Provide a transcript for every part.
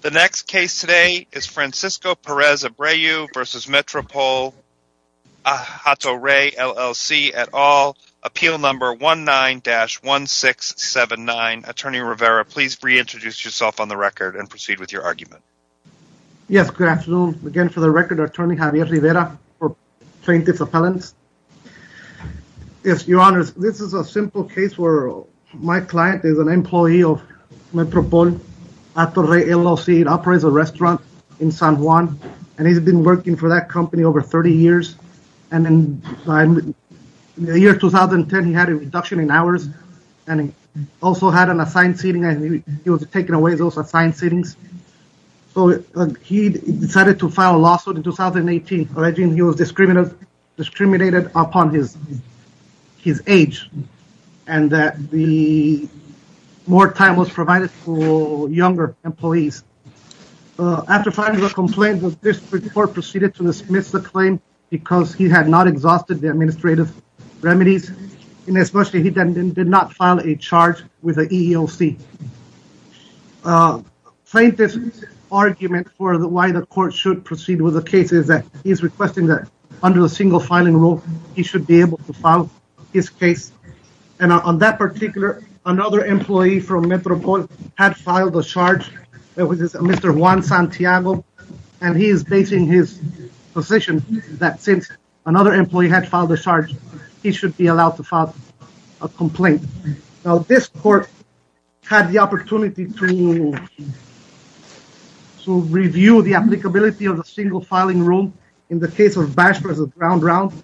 The next case today is Francisco Perez-Abreu v. Metropol Hato Rey LLC et al. Appeal number 19-1679. Attorney Rivera, please reintroduce yourself on the record and proceed with your argument. Yes, good afternoon. Again, for the record, Attorney Javier Rivera for Plaintiff's Appellants. Yes, Your Honors, this is a simple case where my client is an employee of Metropol Hato Rey LLC. It operates a restaurant in San Juan and he's been working for that company over 30 years. And in the year 2010, he had a reduction in hours and he also had an assigned seating. He was taking away those assigned seatings. So he decided to file a lawsuit in 2018 alleging he was discriminated upon his age and that more time was provided for younger employees. After filing the complaint, the district court proceeded to dismiss the claim because he had not exhausted the administrative remedies, and especially he did not file a charge with the EEOC. Plaintiff's argument for why the court should proceed with the case is that he is requesting that under the single filing rule, he should be able to file his case. And on that particular, another employee from Metropol had filed a charge. It was Mr. Juan Santiago, and he is basing his position that since another employee had filed a charge, he should be allowed to file a complaint. Now this court had the opportunity to review the applicability of the single filing rule in the case of Bash v. Brown Brown.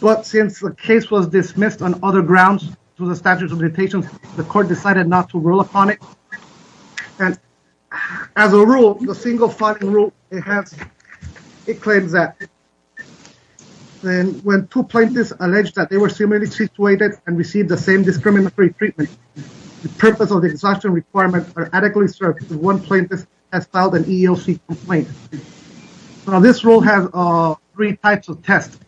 But since the case was dismissed on other grounds to the statute of limitations, the court decided not to rule upon it. And as a rule, the single filing rule, it claims that when two plaintiffs allege that they were similarly situated and received the same discriminatory treatment, the purpose of the exhaustion requirement are adequately served if one plaintiff has filed an EEOC complaint. Now this rule has three types of tests.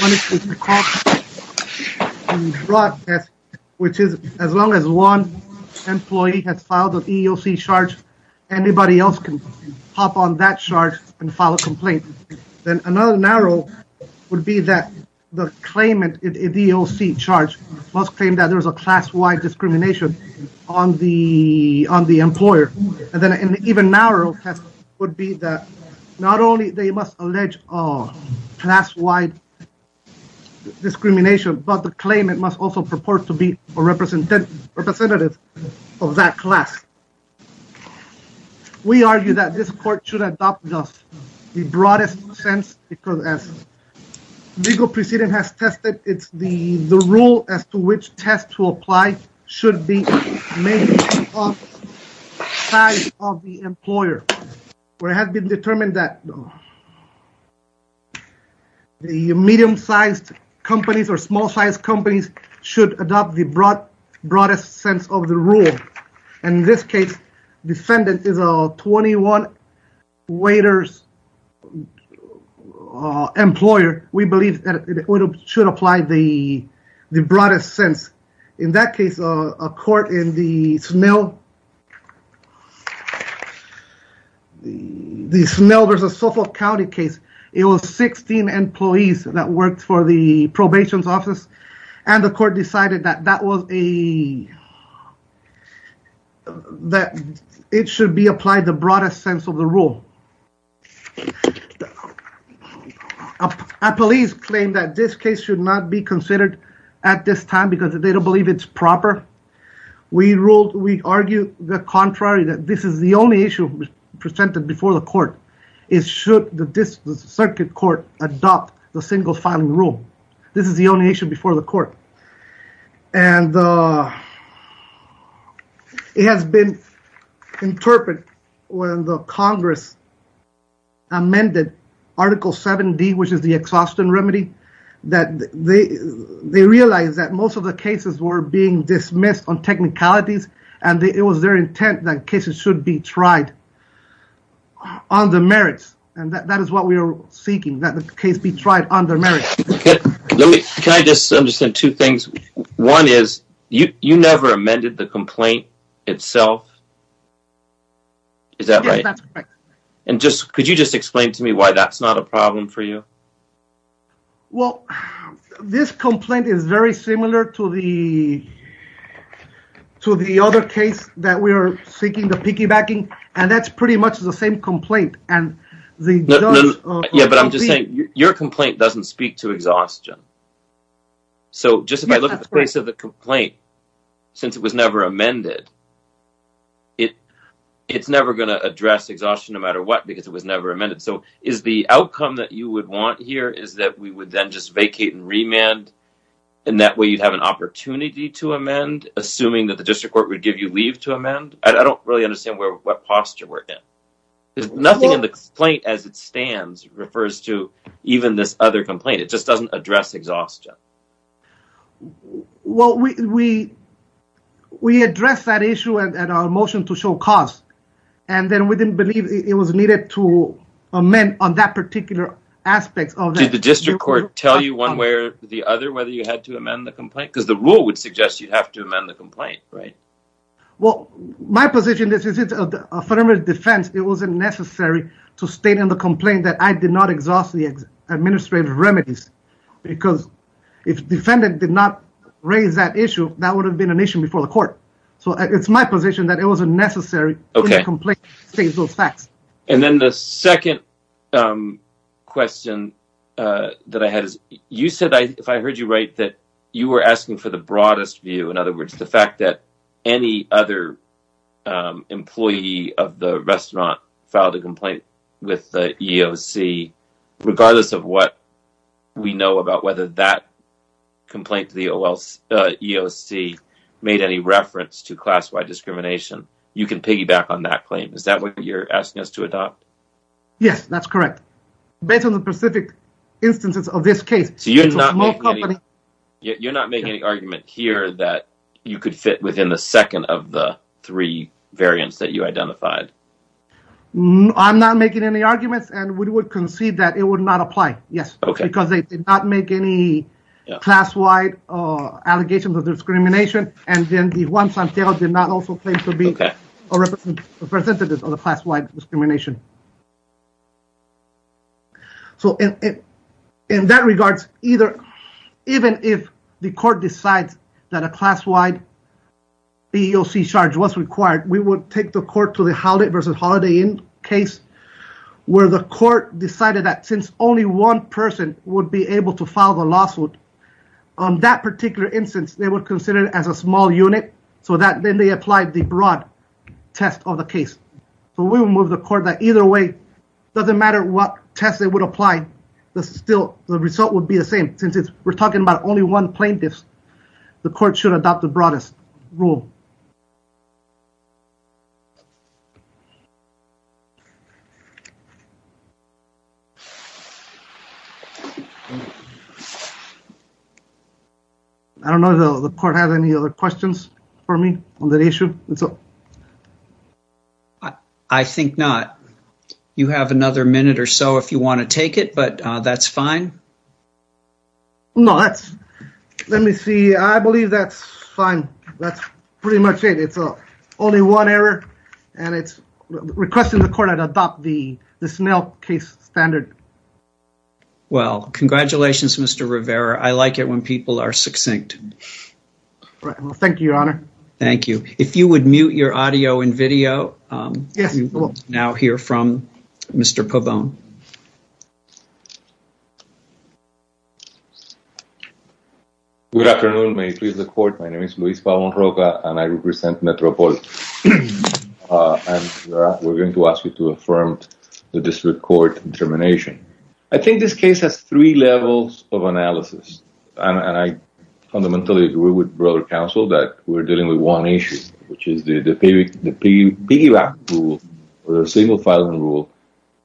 One is called the fraud test, which is as long as one employee has filed an EEOC charge, anybody else can hop on that charge and file a complaint. Then another narrow would be that the claimant in the EEOC charge must claim that there is a class-wide discrimination on the employer. And then an even narrow test would be that not only they must allege class-wide discrimination, but the claimant must also purport to be a representative of that class. We argue that this court should adopt the broadest sense because as legal precedent has tested, it's the rule as to which test to apply should be made of size of the employer. Where it has been determined that the medium-sized companies or small-sized companies should adopt the broadest sense of the rule. In this case, defendant is a 21 waiters employer. We believe that it should apply the broadest sense. In that case, a court in the Snell versus Suffolk County case, it was 16 employees that worked for the probation's office and the court decided that it should be applied the broadest sense of the rule. A police claim that this case should not be considered at this time because they don't believe it's proper. We argue the contrary that this is the only issue presented before the court. It should the circuit court adopt the single filing rule. This is the only issue before the court. It has been interpreted when the Congress amended Article 7D, which is the exhaustion remedy, that they realized that most of the cases were being dismissed on technicalities and it was their intent that cases should be tried on the merits. That is what we are seeking, that the case be tried on the merits. Can I just understand two things? One is, you never amended the complaint itself. Is that right? Yes, that's correct. Could you just explain to me why that's not a problem for you? Well, this complaint is very similar to the other case that we are seeking the piggybacking and that's pretty much the same complaint. But I'm just saying, your complaint doesn't speak to exhaustion. So just if I look at the case of the complaint, since it was never amended, it's never going to address exhaustion no matter what because it was never amended. So is the outcome that you would want here is that we would then just vacate and remand and that way you'd have an opportunity to amend, assuming that the district court would give you leave to amend? I don't really understand what posture we're in. Nothing in the complaint as it stands refers to even this other complaint. It just doesn't address exhaustion. Well, we addressed that issue at our motion to show cost and then we didn't believe it was needed to amend on that particular aspect. Did the district court tell you one way or the other whether you had to amend the complaint? Because the rule would suggest you'd have to amend the complaint, right? Well, my position is it's affirmative defense. It wasn't necessary to state in the complaint that I did not exhaust the administrative remedies because if defendant did not raise that issue, that would have been an issue before the court. So it's my position that it wasn't necessary in the complaint to state those facts. And then the second question that I had is you said, if I heard you right, that you were asking for the broadest view. In other words, the fact that any other employee of the restaurant filed a complaint with the EEOC, regardless of what we know about whether that complaint to the EEOC made any reference to class-wide discrimination, you can piggyback on that claim. Is that what you're asking us to adopt? Yes, that's correct. Based on the specific instances of this case, it was a small company. You're not making any argument here that you could fit within the second of the three variants that you identified. I'm not making any arguments, and we would concede that it would not apply, yes. Okay. Because they did not make any class-wide allegations of discrimination, and then Juan Santiago did not also claim to be a representative of the class-wide discrimination. So, in that regards, even if the court decides that a class-wide EEOC charge was required, we would take the court to the Holiday versus Holiday Inn case, where the court decided that since only one person would be able to file the lawsuit, on that particular instance, they would consider it as a small unit, so that then they applied the broad test of the case. So we would move the court that either way, it doesn't matter what test they would apply, the result would be the same, since we're talking about only one plaintiff, the court should adopt the broadest rule. I don't know if the court has any other questions for me on that issue. I think not. You have another minute or so if you want to take it, but that's fine. No, let me see. I believe that's fine. That's pretty much it. It's only one error, and it's requesting the court adopt this mail case standard. Well, congratulations, Mr. Rivera. I like it when people are succinct. Thank you, Your Honor. Thank you. If you would mute your audio and video, we will now hear from Mr. Pavon. Good afternoon. May it please the court, my name is Luis Pavon Roca, and I represent Metropol. We're going to ask you to affirm the district court determination. I fundamentally agree with the broader counsel that we're dealing with one issue, which is the piggyback rule, the single-filing rule.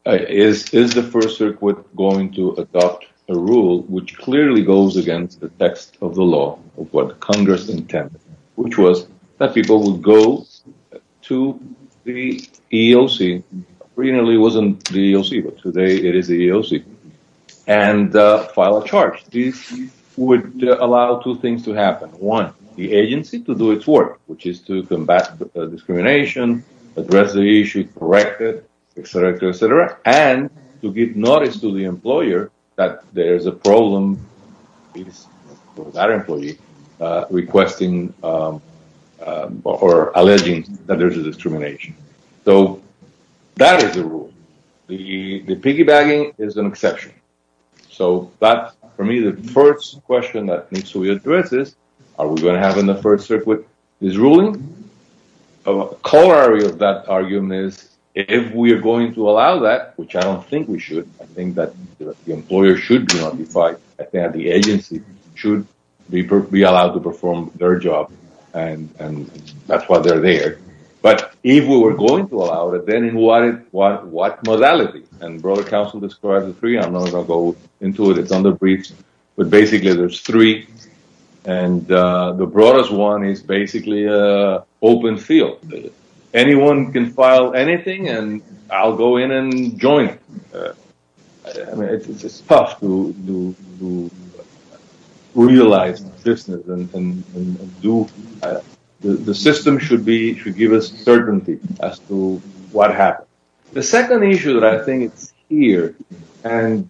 Is the First Circuit going to adopt a rule which clearly goes against the text of the law, of what Congress intended, which was that people would go to the EEOC, originally it wasn't the EEOC, but today it is the EEOC, and file a charge. This would allow two things to happen. One, the agency to do its work, which is to combat discrimination, address the issue, correct it, et cetera, et cetera, and to give notice to the employer that there's a problem with that employee requesting or alleging that there's a discrimination. So that is the rule. The piggybacking is an exception. So that, for me, the first question that needs to be addressed is, are we going to have in the First Circuit this ruling? A corollary of that argument is, if we are going to allow that, which I don't think we should, I think that the employer should be notified, I think that the agency should be allowed to perform their job, and that's why they're there. But if we were going to allow it, then in what modality? And broader counsel described the three. I'm not going to go into it. It's under briefs, but basically there's three, and the broadest one is basically open field. Anyone can file anything, and I'll go in and join. It's tough to realize the system. The system should give us certainty as to what happened. The second issue that I think is here, and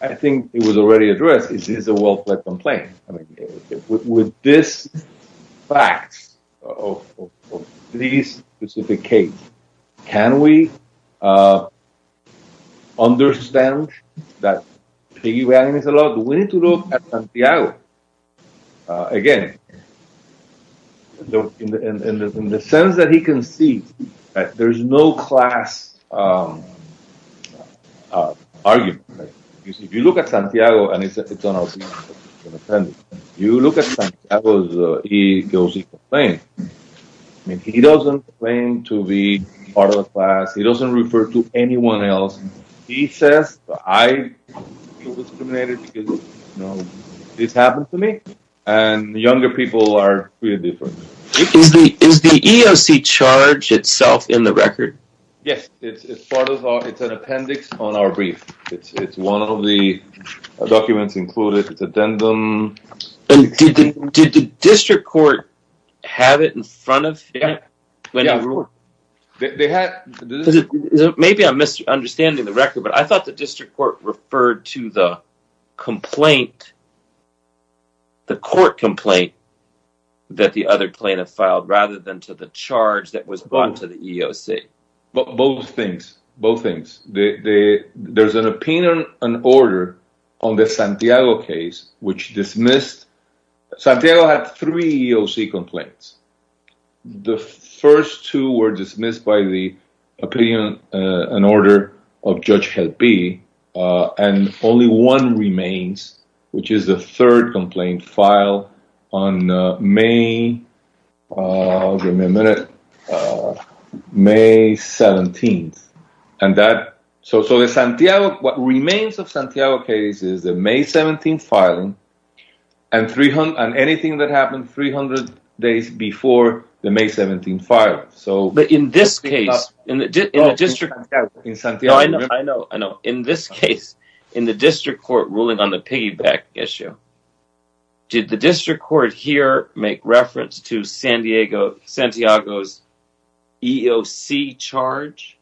I think it was already addressed, is a welfare complaint. With this fact of this specific case, can we understand that piggybacking is allowed? We need to look at Santiago. Again, in the sense that he concedes, there's no class argument. If you look at Santiago, and it's on our scene, you look at Santiago, he goes and complains. He doesn't complain to be part of a class. He doesn't refer to anyone else. He says, I feel discriminated because this happened to me, and younger people are really different. Is the EOC charge itself in the record? Yes, it's an appendix on our brief. It's one of the documents included. It's addendum. Did the district court have it in front of it? Yeah. Maybe I'm misunderstanding the record, but I thought the district court referred to the complaint, the court complaint that the other plaintiff filed, rather than to the charge that was brought to the EOC. Both things. There's an opinion and order on the Santiago case, which dismissed... Santiago had three EOC complaints. The first two were dismissed by the opinion and order of Judge Jalpi, and only one remains, which is the third complaint filed on May... Give me a minute. May 17th, and that... So, the Santiago... What remains of Santiago case is the May 17th filing, and anything that happened 300 days before the May 17th filing. But in this case, in the district... I know, I know. In this case, in the district court ruling on the piggyback issue, did the district court here make reference to Santiago's EOC charge?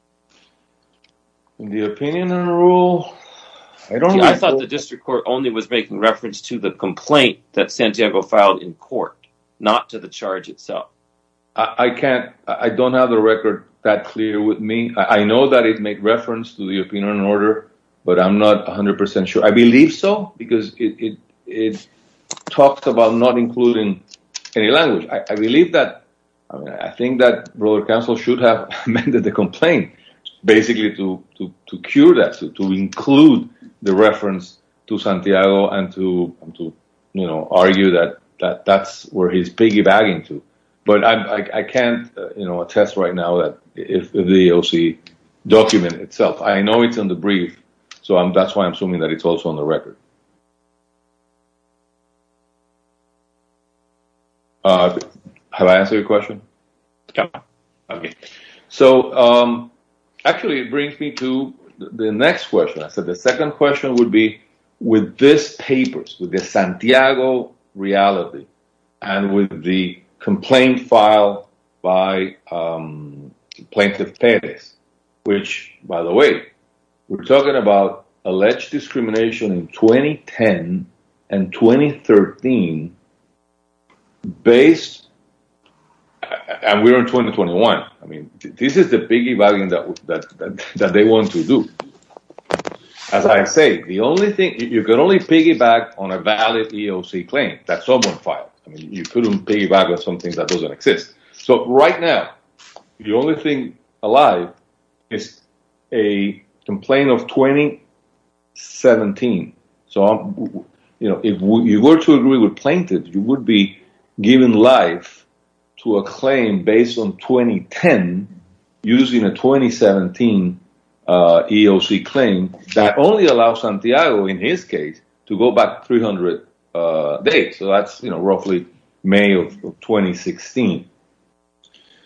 The opinion and rule... I thought the district court only was making reference to the complaint that Santiago filed in court, not to the charge itself. I can't... I don't have the record that clear with me. I know that it made reference to the opinion and order, but I'm not 100% sure. I believe so, because it talks about not including any language. I believe that... I think that broader counsel should have amended the complaint, basically to cure that, to include the reference to Santiago and to argue that that's where he's piggybacking to. But I can't attest right now that the EOC document itself... I know it's in the brief, so that's why I'm assuming that it's also on the record. Have I answered your question? Yeah. Okay. So, actually, it brings me to the next question. I said the second question would be with these papers, with the Santiago reality, and with the complaint filed by Plaintiff Perez, which, by the way, we're talking about alleged discrimination in 2010 and 2013 based... And we're in 2021. I mean, this is the piggybacking that they want to do. As I say, the only thing... You can only piggyback on a valid EOC claim that someone filed. I mean, you couldn't piggyback on something that doesn't exist. So, right now, the only thing alive is a complaint of 2017. So, if you were to agree with Plaintiff, you would be giving life to a claim based on 2010 using a 2017 EOC claim that only allows Santiago, in his case, to go back 300 days. So, that's roughly May of 2016.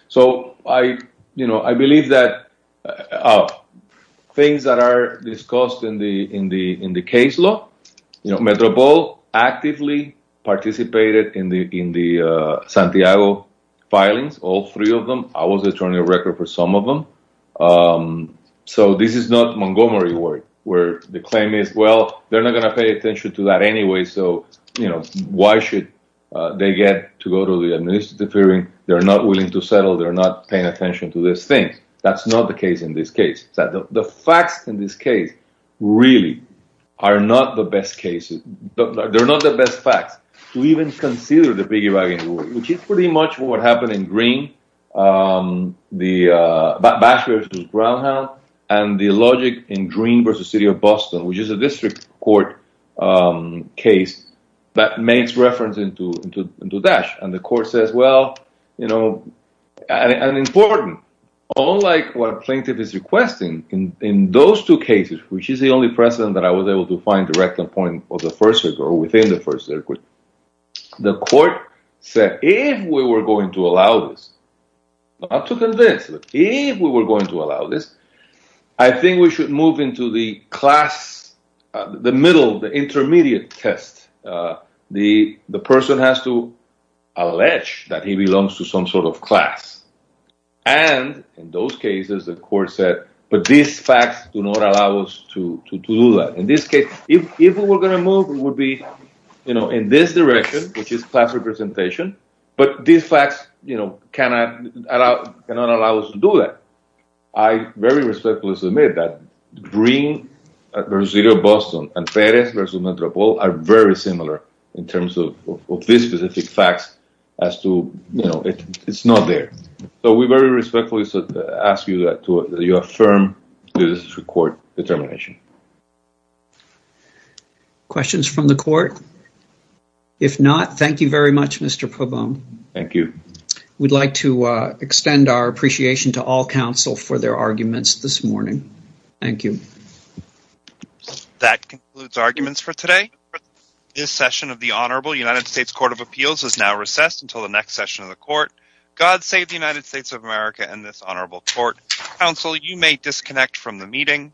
So, I believe that things that are discussed in the case law, you know, Metropole actively participated in the Santiago filings, all three of them. I was attorney of record for some of them. So, this is not Montgomery where the claim is, well, they're not going to pay attention to that anyway. So, you know, why should they get to go to the administrative hearing? They're not willing to settle. They're not paying attention to these things. That's not the case in this case. The facts in this case really are not the best cases. They're not the best facts to even consider the piggybacking, which is pretty much what happened in Greene, the basher to Brownhound, and the logic in Greene versus City of Boston, which is a district court case that makes reference into Dash. And the court says, well, you know, and important, unlike what a plaintiff is requesting, in those two cases, which is the only precedent that I was able to find direct appointment of the first circuit or within the first circuit, the court said, if we were going to allow this, not to convince, but if we were going to allow this, I think we should move into the class, the middle, the intermediate test. The person has to allege that he belongs to some sort of class. And in those cases, the court said, but these facts do not allow us to do that. In this case, if we were going to move, it would be, you know, in this direction, which is class representation. But these facts, you know, cannot allow us to do that. I very respectfully submit that Greene versus City of Boston and Perez versus Metropole are very similar in terms of these specific facts as to, you know, it's not there. So we very respectfully ask you to affirm this court determination. Questions from the court? If not, thank you very much, Mr. Pabon. Thank you. We'd like to extend our appreciation to all counsel for their arguments this morning. Thank you. That concludes arguments for today. This session of the Honorable United States Court of Appeals is now recessed until the next session of the court. God save the United States of America and this honorable court. Counsel, you may disconnect from the meeting.